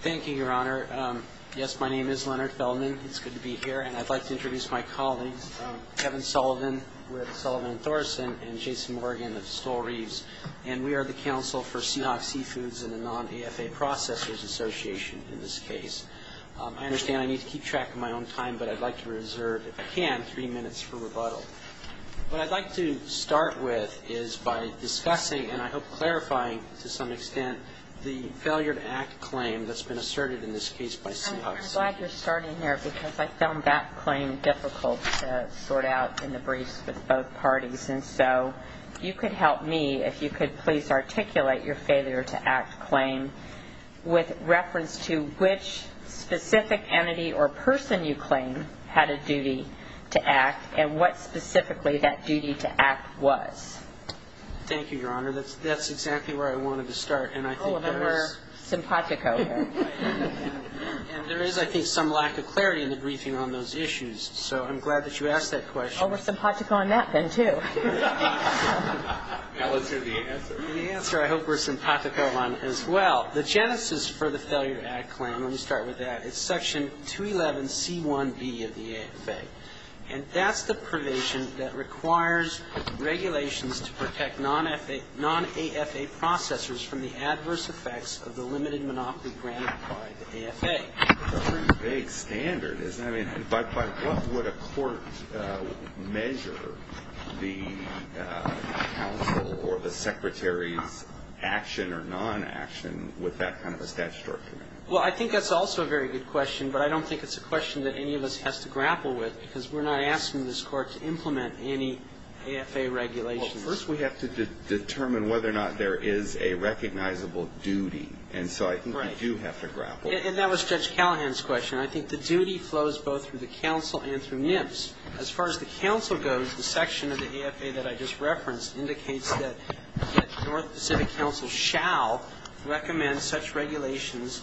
Thank you, Your Honor. Yes, my name is Leonard Fellman. It's good to be here, and I'd like to introduce my colleagues, Kevin Sullivan, with Sullivan and Thorson, and Jason Morgan of Stoll Reeves, and we are the counsel for Sea Hawk Seafoods and the Non-AFA Processors Association in this case. I understand I need to keep track of my own time, but I'd like to reserve, if I can, three minutes for rebuttal. What I'd like to start with is by discussing, and I hope clarifying to some extent, the failure to act claim that's been asserted in this case by Sea Hawk Seafoods. Specifically, that duty to act was. Sullivan Thank you, Your Honor. That's exactly where I wanted to start, and I think that is... Gutierrez All of them were simpatico here. Sullivan And there is, I think, some lack of clarity in the briefing on those issues, so I'm glad that you asked that question. Gutierrez Oh, we're simpatico on that then, too. Morgan Now let's hear the answer. Gutierrez Well, I think that's also a very good question, but I don't think it's a question that any of us has to grapple with. Because we're not asking this Court to implement any AFA regulations. Sullivan Well, first we have to determine whether or not there is a recognizable duty. And so I think we do have to grapple with that. Gutierrez And that was Judge Callahan's question. I think the duty flows both through the counsel and through NIPS. As far as the counsel goes, the section of the AFA that I just referenced indicates that North Pacific counsel shall recommend such regulations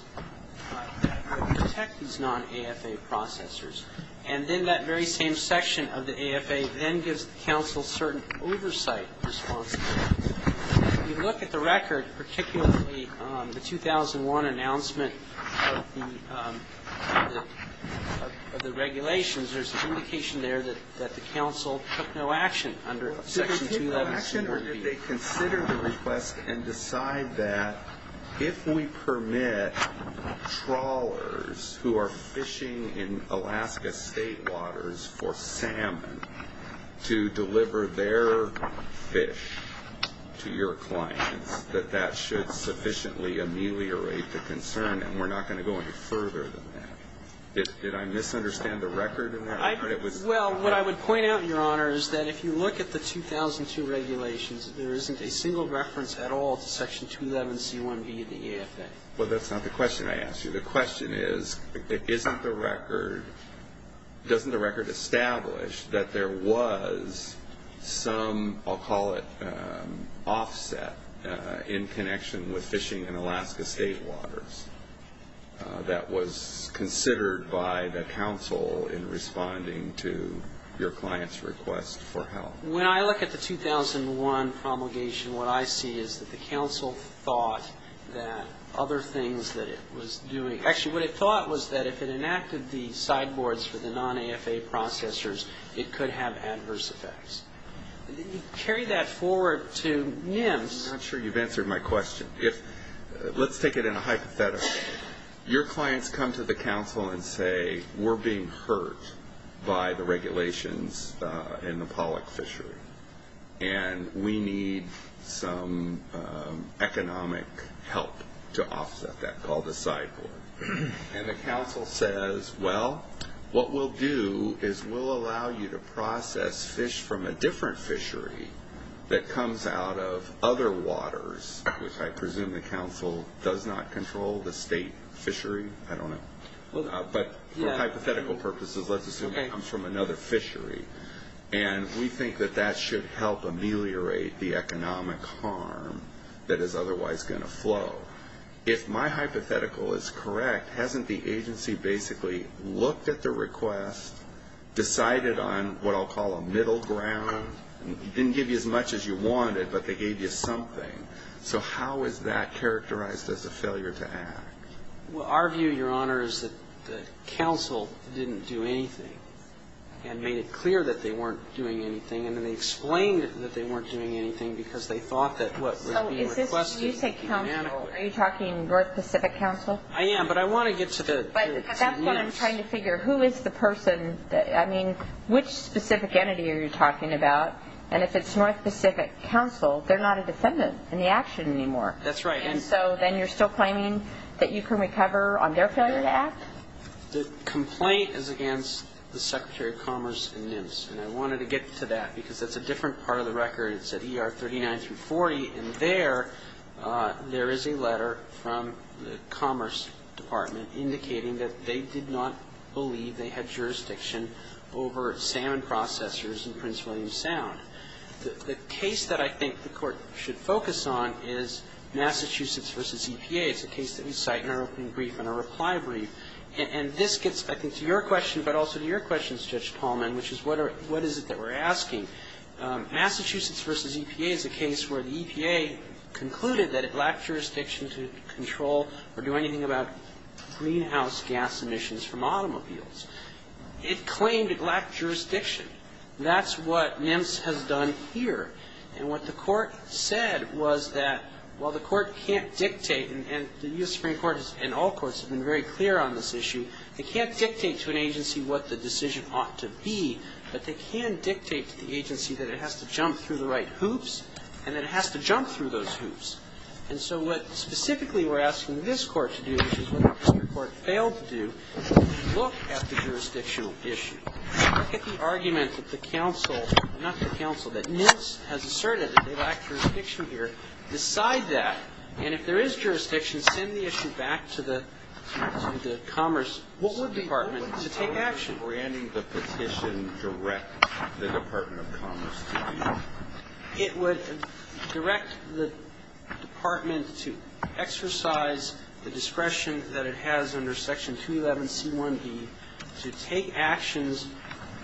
that would protect these non-AFA processors. And then that very same section of the AFA then gives the counsel certain oversight responsibility. If you look at the record, particularly the 2001 announcement of the regulations, there's an indication there that the counsel took no action under Section 21B. Did they consider the request and decide that if we permit trawlers who are fishing in Alaska state waters for salmon to deliver their fish to your clients, that that should sufficiently ameliorate the concern? And we're not going to go any further than that. Did I misunderstand the record in that regard? Well, what I would point out, Your Honor, is that if you look at the 2002 regulations, there isn't a single reference at all to Section 211C1B of the AFA. Well, that's not the question I asked you. The question is, doesn't the record establish that there was some, I'll call it, offset in connection with fishing in Alaska state waters that was considered by the counsel in responding to your client's request for help? When I look at the 2001 promulgation, what I see is that the counsel thought that other things that it was doing actually, what it thought was that if it enacted the sideboards for the non-AFA processors, it could have adverse effects. Carry that forward to NIMS. I'm not sure you've answered my question. Let's take it in a hypothetical. Your clients come to the counsel and say, we're being hurt by the regulations in the Pollock fishery, and we need some economic help to offset that, called the sideboard. And the counsel says, well, what we'll do is we'll allow you to process fish from a different fishery that comes out of other waters, which I presume the counsel does not control, the state fishery. I don't know. But for hypothetical purposes, let's assume it comes from another fishery. And we think that that should help ameliorate the economic harm that is otherwise going to flow. If my hypothetical is correct, hasn't the agency basically looked at the request, decided on what I'll call a middle ground? It didn't give you as much as you wanted, but they gave you something. So how is that characterized as a failure to act? Well, our view, Your Honor, is that the counsel didn't do anything and made it clear that they weren't doing anything, and then they explained that they weren't doing anything because they thought that what would be requested would be managed. Are you talking North Pacific counsel? I am, but I want to get to NIMS. That's what I'm trying to figure. Who is the person? I mean, which specific entity are you talking about? And if it's North Pacific counsel, they're not a defendant in the action anymore. That's right. And so then you're still claiming that you can recover on their failure to act? The complaint is against the Secretary of Commerce and NIMS, and I wanted to get to that because that's a different part of the record. It's at ER 39 through 40, and there, there is a letter from the Commerce Department indicating that they did not believe they had jurisdiction over salmon processors in Prince William Sound. The case that I think the Court should focus on is Massachusetts v. EPA. It's a case that we cite in our opening brief and our reply brief. And this gets, I think, to your question, but also to your question, Judge Palman, which is what is it that we're asking. Massachusetts v. EPA is a case where the EPA concluded that it lacked jurisdiction to control or do anything about greenhouse gas emissions from automobiles. It claimed it lacked jurisdiction. That's what NIMS has done here. And what the Court said was that while the Court can't dictate, and the U.S. Supreme Court and all courts have been very clear on this issue, they can't dictate to an agency what the decision ought to be, but they can dictate to the agency that it has to jump through the right hoops and that it has to jump through those hoops. And so what specifically we're asking this Court to do, which is what the Supreme Court failed to do, is look at the jurisdictional issue. Look at the argument that the counsel, not the counsel, that NIMS has asserted that they lack jurisdiction here. Decide that. And if there is jurisdiction, send the issue back to the Commerce Department to take action. And would granting the petition direct the Department of Commerce to do that? It would direct the Department to exercise the discretion that it has under Section 211C1B to take actions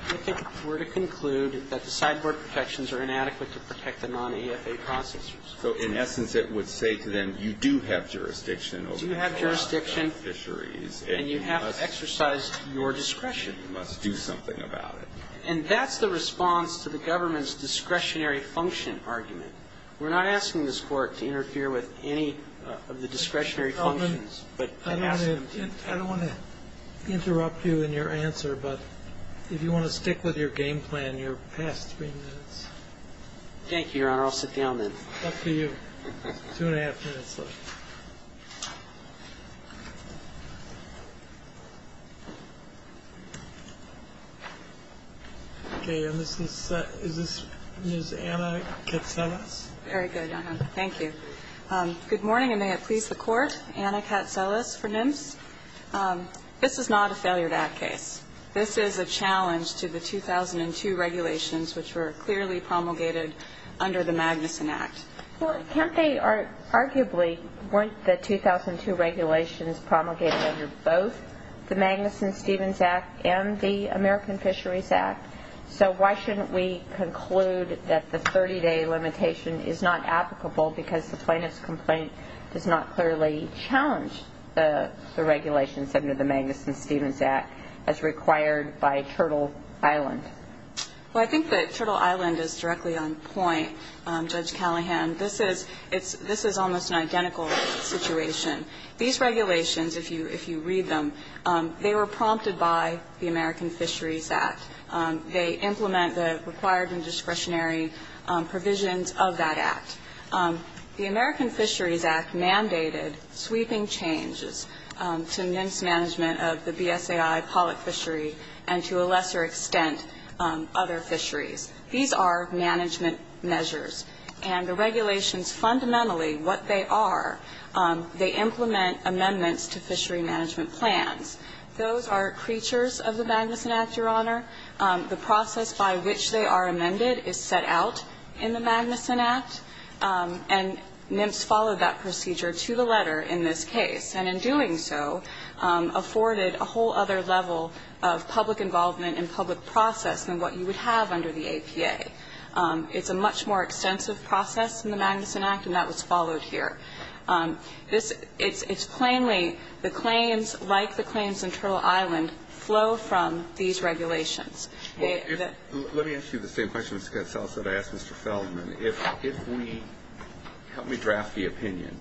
if it were to conclude that the sideboard protections are inadequate to protect the non-EFA processors. So, in essence, it would say to them, you do have jurisdiction over all the fisheries and you have to exercise your discretion. You must do something about it. And that's the response to the government's discretionary function argument. We're not asking this Court to interfere with any of the discretionary functions, but I'm asking them to. I don't want to interrupt you in your answer, but if you want to stick with your game plan, your past three minutes. Thank you, Your Honor. I'll sit down then. Up to you. Two and a half minutes left. Okay. And this is Ms. Anna Katselas. Very good, Your Honor. Thank you. Good morning, and may it please the Court. Anna Katselas for NMS. This is not a failure to act case. This is a challenge to the 2002 regulations, which were clearly promulgated under the Magnuson Act. Well, can't they arguably, weren't the 2002 regulations promulgated under both the Magnuson-Stevens Act and the American Fisheries Act? So why shouldn't we conclude that the 30-day limitation is not applicable because the plaintiff's complaint does not clearly challenge the regulations under the Magnuson-Stevens Act as required by Turtle Island? Well, I think that Turtle Island is directly on point. Judge Callahan, this is almost an identical situation. These regulations, if you read them, they were prompted by the American Fisheries Act. They implement the required and discretionary provisions of that act. The American Fisheries Act mandated sweeping changes to mince management of the BSAI pollock fishery and, to a lesser extent, other fisheries. These are management measures. And the regulations fundamentally, what they are, they implement amendments to fishery management plans. Those are creatures of the Magnuson Act, Your Honor. The process by which they are amended is set out in the Magnuson Act. And MIPS followed that procedure to the letter in this case. And in doing so, afforded a whole other level of public involvement and public process than what you would have under the APA. It's a much more extensive process in the Magnuson Act, and that was followed here. It's plainly the claims, like the claims in Turtle Island, flow from these regulations. Let me ask you the same question, Ms. Gatzell, as I asked Mr. Feldman. Help me draft the opinion.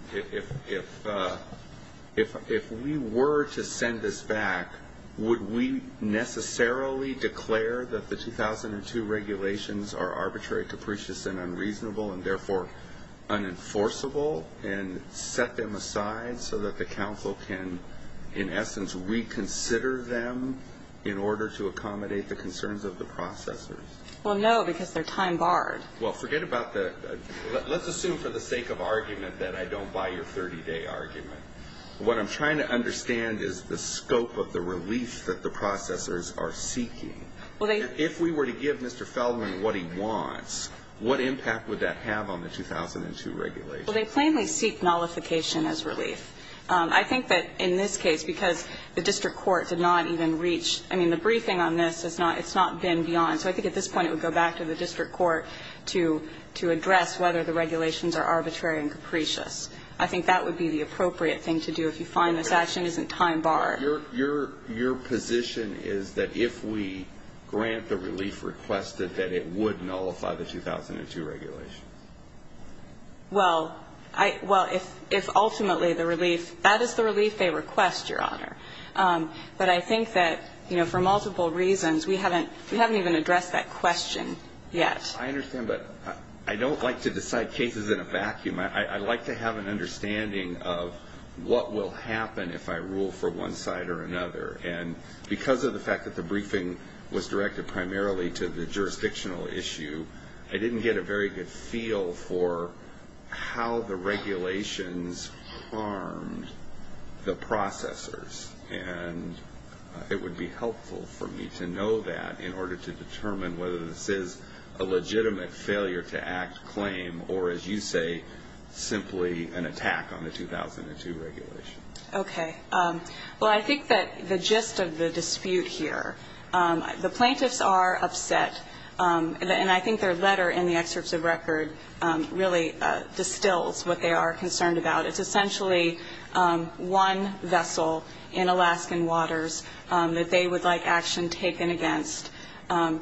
If we were to send this back, would we necessarily declare that the 2002 regulations are arbitrary, capricious, and unreasonable, and therefore unenforceable and set them aside so that the council can, in essence, reconsider them in order to accommodate the concerns of the processors? Well, no, because they're time-barred. Well, forget about that. Let's assume for the sake of argument that I don't buy your 30-day argument. What I'm trying to understand is the scope of the relief that the processors are seeking. If we were to give Mr. Feldman what he wants, what impact would that have on the 2002 regulations? Well, they plainly seek nullification as relief. I think that in this case, because the district court did not even reach, I mean, the briefing on this, it's not been beyond. So I think at this point it would go back to the district court to address whether the regulations are arbitrary and capricious. I think that would be the appropriate thing to do if you find this action isn't time-barred. Your position is that if we grant the relief requested, that it would nullify the 2002 regulations? Well, if ultimately the relief, that is the relief they request, Your Honor. But I think that, you know, for multiple reasons, we haven't even addressed that question yet. I understand, but I don't like to decide cases in a vacuum. I like to have an understanding of what will happen if I rule for one side or another. And because of the fact that the briefing was directed primarily to the jurisdictional issue, I didn't get a very good feel for how the regulations harmed the processors. And it would be helpful for me to know that in order to determine whether this is a legitimate failure-to-act claim or, as you say, simply an attack on the 2002 regulation. Okay. Well, I think that the gist of the dispute here, the plaintiffs are upset. And I think their letter in the excerpts of record really distills what they are concerned about. It's essentially one vessel in Alaskan waters that they would like action taken against. And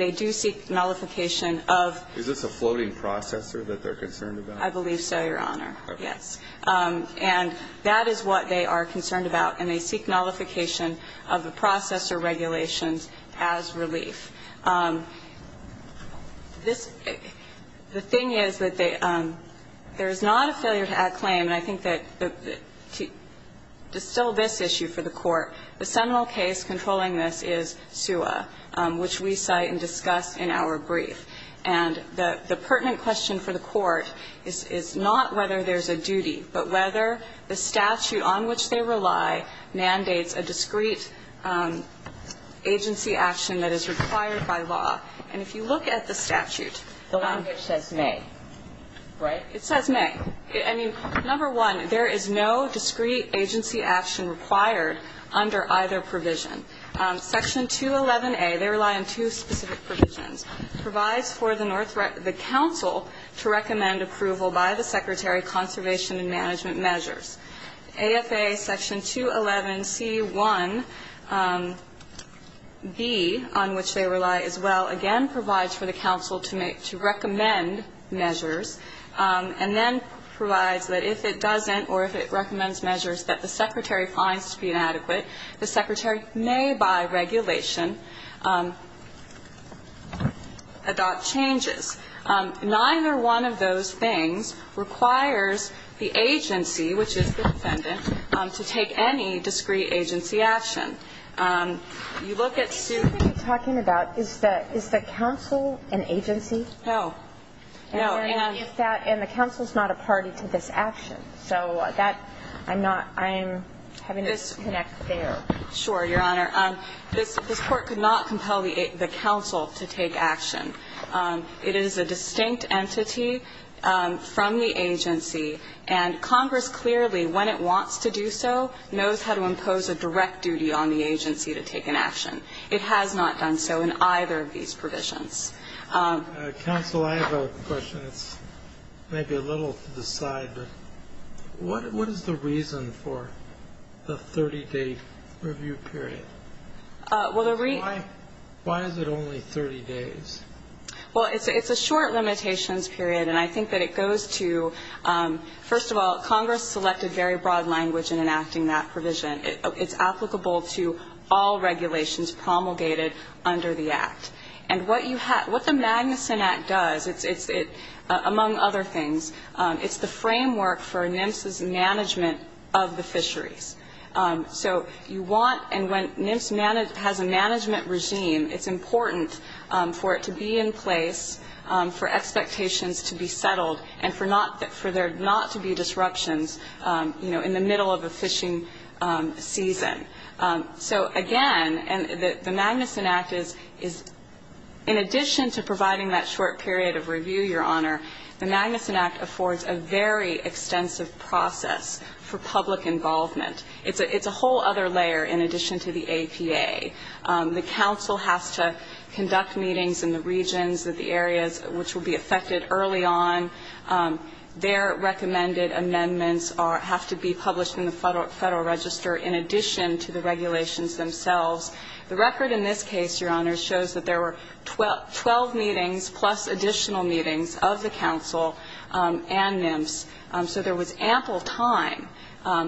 they do seek nullification of the process. Is this a floating processor that they're concerned about? I believe so, Your Honor. Okay. Yes. And that is what they are concerned about. And they seek nullification of the processor regulations as relief. The thing is that there is not a failure-to-act claim. And I think that to distill this issue for the Court, the seminal case controlling this is SUA, which we cite and discuss in our brief. And the pertinent question for the Court is not whether there's a duty, but whether the statute on which they rely mandates a discrete agency action that is required by law. And if you look at the statute ---- The language says may, right? It says may. I mean, number one, there is no discrete agency action required under either provision. Section 211A, they rely on two specific provisions, provides for the Council to recommend approval by the Secretary, conservation and management measures. AFA Section 211C1B, on which they rely as well, again, provides for the Council to recommend measures. And then provides that if it doesn't or if it recommends measures that the Secretary finds to be inadequate, the Secretary may, by regulation, adopt changes. Neither one of those things requires the agency, which is the defendant, to take any discrete agency action. You look at SUA ---- What you're talking about, is the Council an agency? No. No. And if that ---- and the Council is not a party to this action. So that ---- I'm not ---- I'm having a disconnect there. Sure, Your Honor. This Court could not compel the Council to take action. It is a distinct entity from the agency, and Congress clearly, when it wants to do so, knows how to impose a direct duty on the agency to take an action. It has not done so in either of these provisions. Counsel, I have a question. It's maybe a little to the side, but what is the reason for the 30-day review period? Well, the reason ---- Why is it only 30 days? Well, it's a short limitations period, and I think that it goes to, first of all, Congress selected very broad language in enacting that provision. It's applicable to all regulations promulgated under the Act. And what you have ---- what the Magnuson Act does, it's, among other things, it's the framework for NMFS's management of the fisheries. So you want ---- and when NMFS has a management regime, it's important for it to be in place, for expectations to be settled, and for not ---- for there not to be disruptions, you know, in the middle of a fishing season. So, again, the Magnuson Act is, in addition to providing that short period of review, Your Honor, the Magnuson Act affords a very extensive process for public involvement. It's a whole other layer in addition to the APA. The counsel has to conduct meetings in the regions, the areas which will be affected early on. Their recommended amendments are ---- have to be published in the Federal Register in addition to the regulations themselves. The record in this case, Your Honor, shows that there were 12 meetings plus additional meetings of the counsel and NMFS. So there was ample time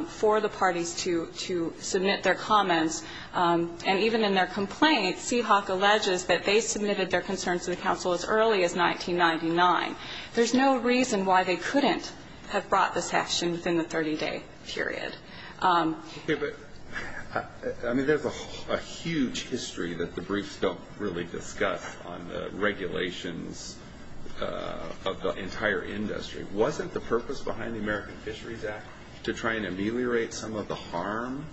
for the parties to submit their comments. And even in their complaint, Seahawk alleges that they submitted their concerns to the counsel as early as 1999. There's no reason why they couldn't have brought this action within the 30-day period. Okay, but, I mean, there's a huge history that the briefs don't really discuss on the regulations of the entire industry. Wasn't the purpose behind the American Fisheries Act to try and ameliorate some of the harm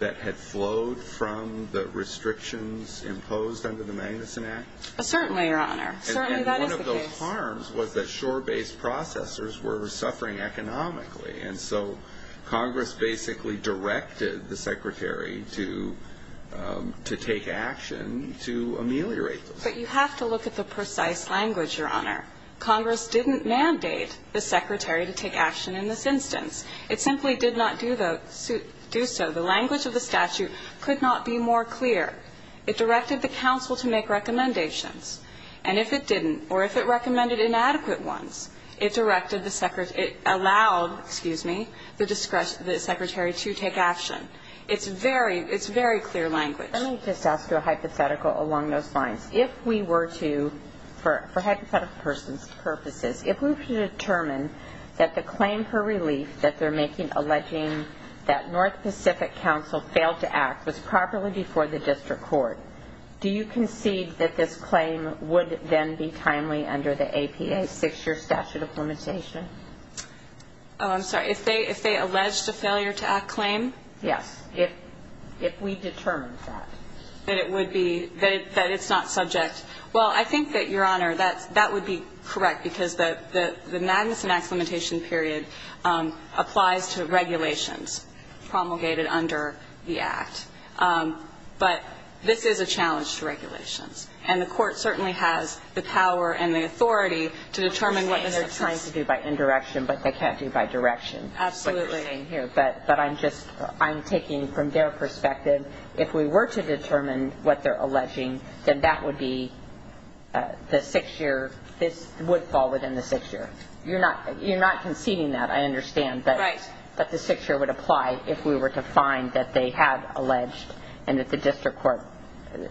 that had flowed from the restrictions imposed under the Magnuson Act? Certainly, Your Honor. Certainly, that is the case. One of the harms was that shore-based processors were suffering economically. And so Congress basically directed the Secretary to take action to ameliorate those. But you have to look at the precise language, Your Honor. Congress didn't mandate the Secretary to take action in this instance. It simply did not do so. The language of the statute could not be more clear. It directed the counsel to make recommendations. And if it didn't, or if it recommended inadequate ones, it allowed, excuse me, the Secretary to take action. It's very clear language. Let me just ask you a hypothetical along those lines. If we were to, for hypothetical purposes, if we were to determine that the claim for relief that they're making alleging that North Pacific Council failed to act was properly before the district court, do you concede that this claim would then be timely under the APA Six-Year Statute of Limitation? Oh, I'm sorry. If they alleged a failure-to-act claim? Yes. If we determined that. That it would be, that it's not subject. Well, I think that, Your Honor, that would be correct because the Magnuson Act limitation period applies to regulations promulgated under the Act. But this is a challenge to regulations. And the Court certainly has the power and the authority to determine what the success They're trying to do by indirection, but they can't do by direction. Absolutely. But I'm just, I'm taking from their perspective, if we were to determine what they're alleging, then that would be the six-year, this would fall within the six-year. You're not conceding that, I understand. Right. But the six-year would apply if we were to find that they had alleged and that the district court,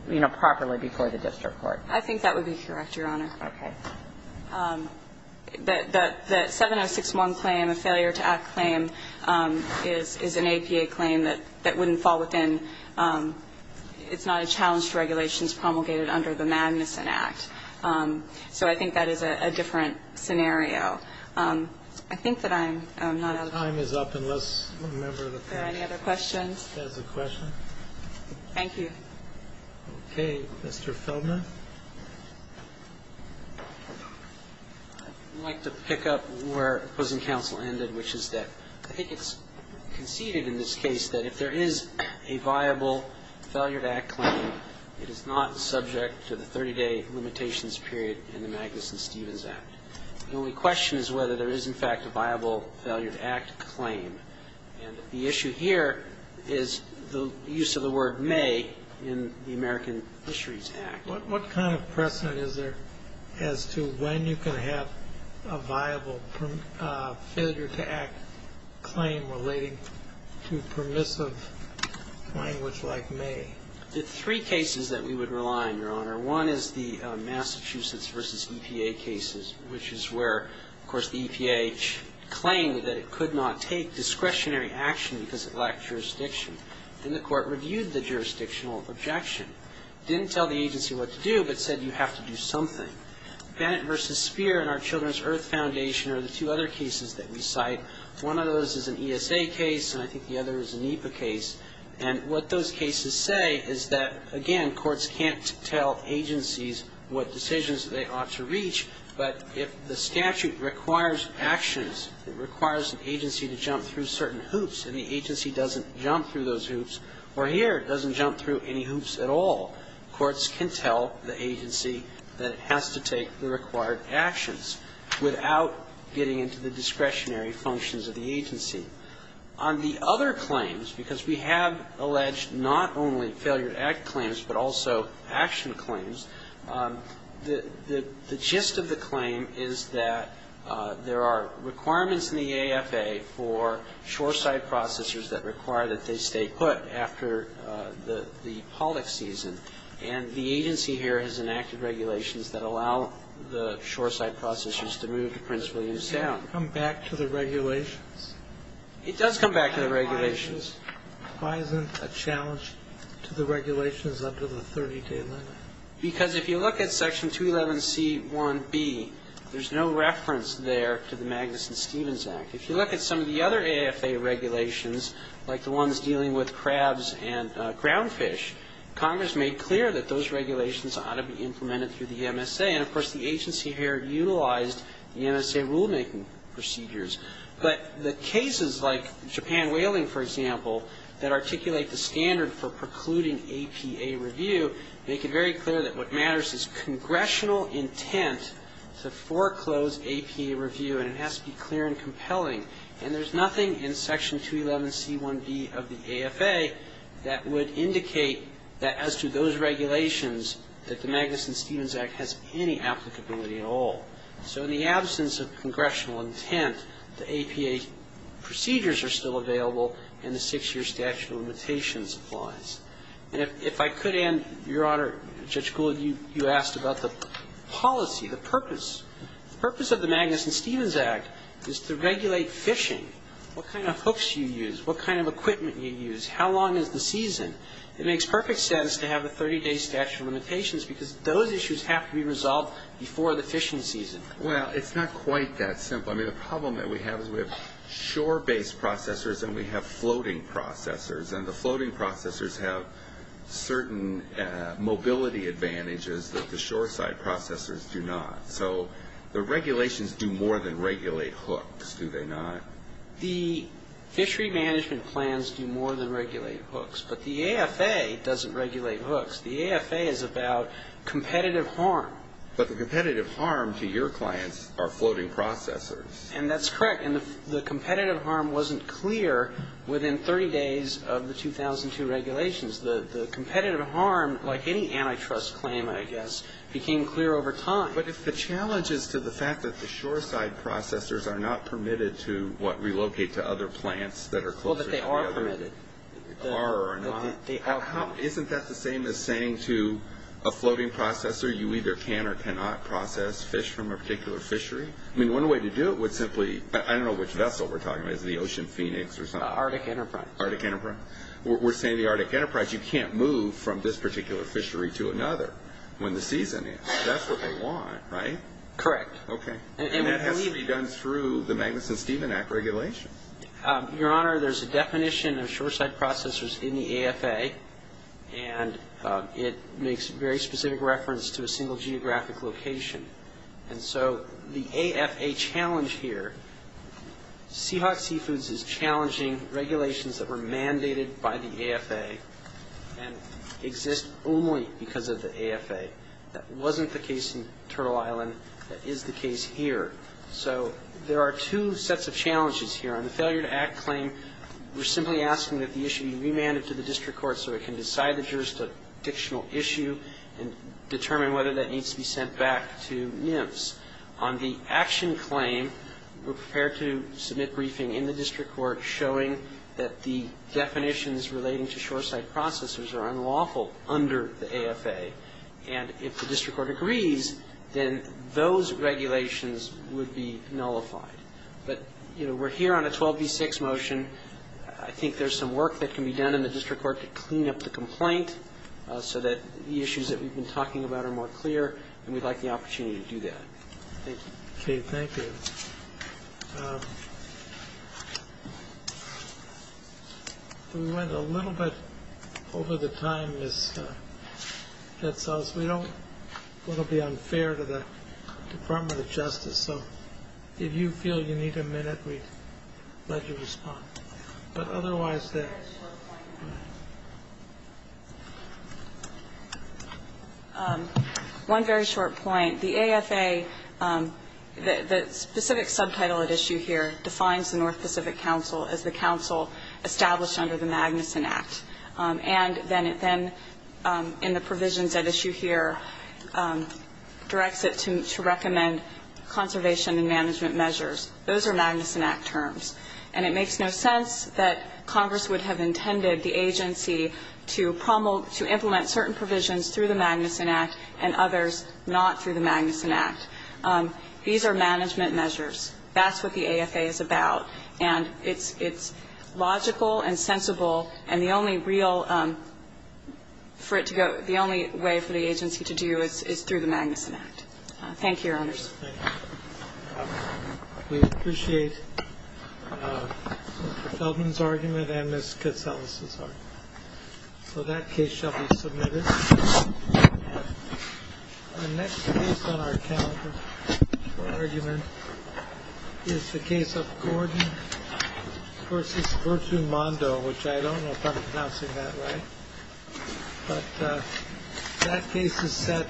you know, properly before the district court. I think that would be correct, Your Honor. Okay. The 706-1 claim, a failure-to-act claim, is an APA claim that wouldn't fall within, it's not a challenge to regulations promulgated under the Magnuson Act. So I think that is a different scenario. I think that I'm not. Your time is up unless a member of the panel. Are there any other questions? Does the question. Thank you. Okay. Mr. Feldman. I'd like to pick up where opposing counsel ended, which is that I think it's conceded in this case that if there is a viable failure-to-act claim, it is not subject to the 30-day limitations period in the Magnuson-Stevens Act. The only question is whether there is, in fact, a viable failure-to-act claim. And the issue here is the use of the word may in the American Fisheries Act. What kind of precedent is there as to when you can have a viable failure-to-act claim relating to permissive language like may? There are three cases that we would rely on, Your Honor. One is the Massachusetts v. EPA cases, which is where, of course, the EPA claimed that it could not take discretionary action because it lacked jurisdiction. And the court reviewed the jurisdictional objection, didn't tell the agency what to do, but said you have to do something. Bennett v. Speer and our Children's Earth Foundation are the two other cases that we cite. One of those is an ESA case, and I think the other is a NEPA case. And what those cases say is that, again, courts can't tell agencies what decisions they ought to reach, but if the statute requires actions, it requires an agency to jump through certain hoops, and the agency doesn't jump through those hoops, or here doesn't jump through any hoops at all, courts can tell the agency that it has to take the required actions without getting into the discretionary functions of the agency. On the other claims, because we have alleged not only failure to act claims, but also action claims, the gist of the claim is that there are requirements in the AFA for shoreside processors that require that they stay put after the pollock season, and the agency here has enacted regulations that allow the shoreside processors to move to Prince William Sound. Does that come back to the regulations? It does come back to the regulations. Why isn't a challenge to the regulations under the 30-day limit? Because if you look at Section 211C1B, there's no reference there to the Magnuson-Stevens Act. If you look at some of the other AFA regulations, like the ones dealing with crabs and ground fish, Congress made clear that those regulations ought to be implemented through the But the cases like Japan Whaling, for example, that articulate the standard for precluding APA review make it very clear that what matters is congressional intent to foreclose APA review, and it has to be clear and compelling. And there's nothing in Section 211C1B of the AFA that would indicate that as to those regulations that the Magnuson-Stevens Act has any applicability at all. So in the absence of congressional intent, the APA procedures are still available and the six-year statute of limitations applies. And if I could, Your Honor, Judge Gould, you asked about the policy, the purpose. The purpose of the Magnuson-Stevens Act is to regulate fishing. What kind of hooks do you use? What kind of equipment do you use? How long is the season? It makes perfect sense to have a 30-day statute of limitations because those issues have to be resolved before the fishing season. Well, it's not quite that simple. I mean, the problem that we have is we have shore-based processors and we have floating processors, and the floating processors have certain mobility advantages that the shore-side processors do not. So the regulations do more than regulate hooks, do they not? The fishery management plans do more than regulate hooks, but the AFA doesn't regulate hooks. The AFA is about competitive harm. But the competitive harm to your clients are floating processors. And that's correct. And the competitive harm wasn't clear within 30 days of the 2002 regulations. The competitive harm, like any antitrust claim, I guess, became clear over time. But if the challenge is to the fact that the shore-side processors are not permitted to, what, relocate to other plants that are closer to the other? Well, that they are permitted. They are. Isn't that the same as saying to a floating processor, you either can or cannot process fish from a particular fishery? I mean, one way to do it would simply, I don't know which vessel we're talking about. Is it the Ocean Phoenix or something? Arctic Enterprise. Arctic Enterprise. We're saying the Arctic Enterprise, you can't move from this particular fishery to another when the season is. That's what they want, right? Correct. Okay. And that has to be done through the Magnuson-Steven Act regulation. Your Honor, there's a definition of shore-side processors in the AFA, and it makes very specific reference to a single geographic location. And so the AFA challenge here, Seahawk Seafoods is challenging regulations that were mandated by the AFA and exist only because of the AFA. That wasn't the case in Turtle Island. That is the case here. So there are two sets of challenges here. On the failure to act claim, we're simply asking that the issue be remanded to the district court so it can decide the jurisdictional issue and determine whether that needs to be sent back to NIMS. On the action claim, we're prepared to submit briefing in the district court showing that the definitions relating to shore-side processors are unlawful under the AFA. And if the district court agrees, then those regulations would be nullified. But, you know, we're here on a 12v6 motion. I think there's some work that can be done in the district court to clean up the complaint so that the issues that we've been talking about are more clear, and we'd like the opportunity to do that. Thank you. Okay. Thank you. We went a little bit over the time, Ms. Getzels. We don't want to be unfair to the Department of Justice. So if you feel you need a minute, we'd let you respond. But otherwise, there's... One very short point. The AFA, the specific subtitle at issue here, defines the North Pacific Council as the council established under the Magnuson Act. And then in the provisions at issue here, directs it to recommend conservation and management measures. Those are Magnuson Act terms. And it makes no sense that Congress would have intended the agency to implement certain provisions through the Magnuson Act and others not through the Magnuson Act. These are management measures. That's what the AFA is about. And it's logical and sensible, and the only real for it to go, the only way for the agency to do it is through the Magnuson Act. Thank you, Your Honors. Thank you. We appreciate Mr. Feldman's argument and Ms. Getzels' argument. So that case shall be submitted. The next case on our calendar for argument is the case of Gordon v. Virtue Mondo, which I don't know if I'm pronouncing that right. But that case is set.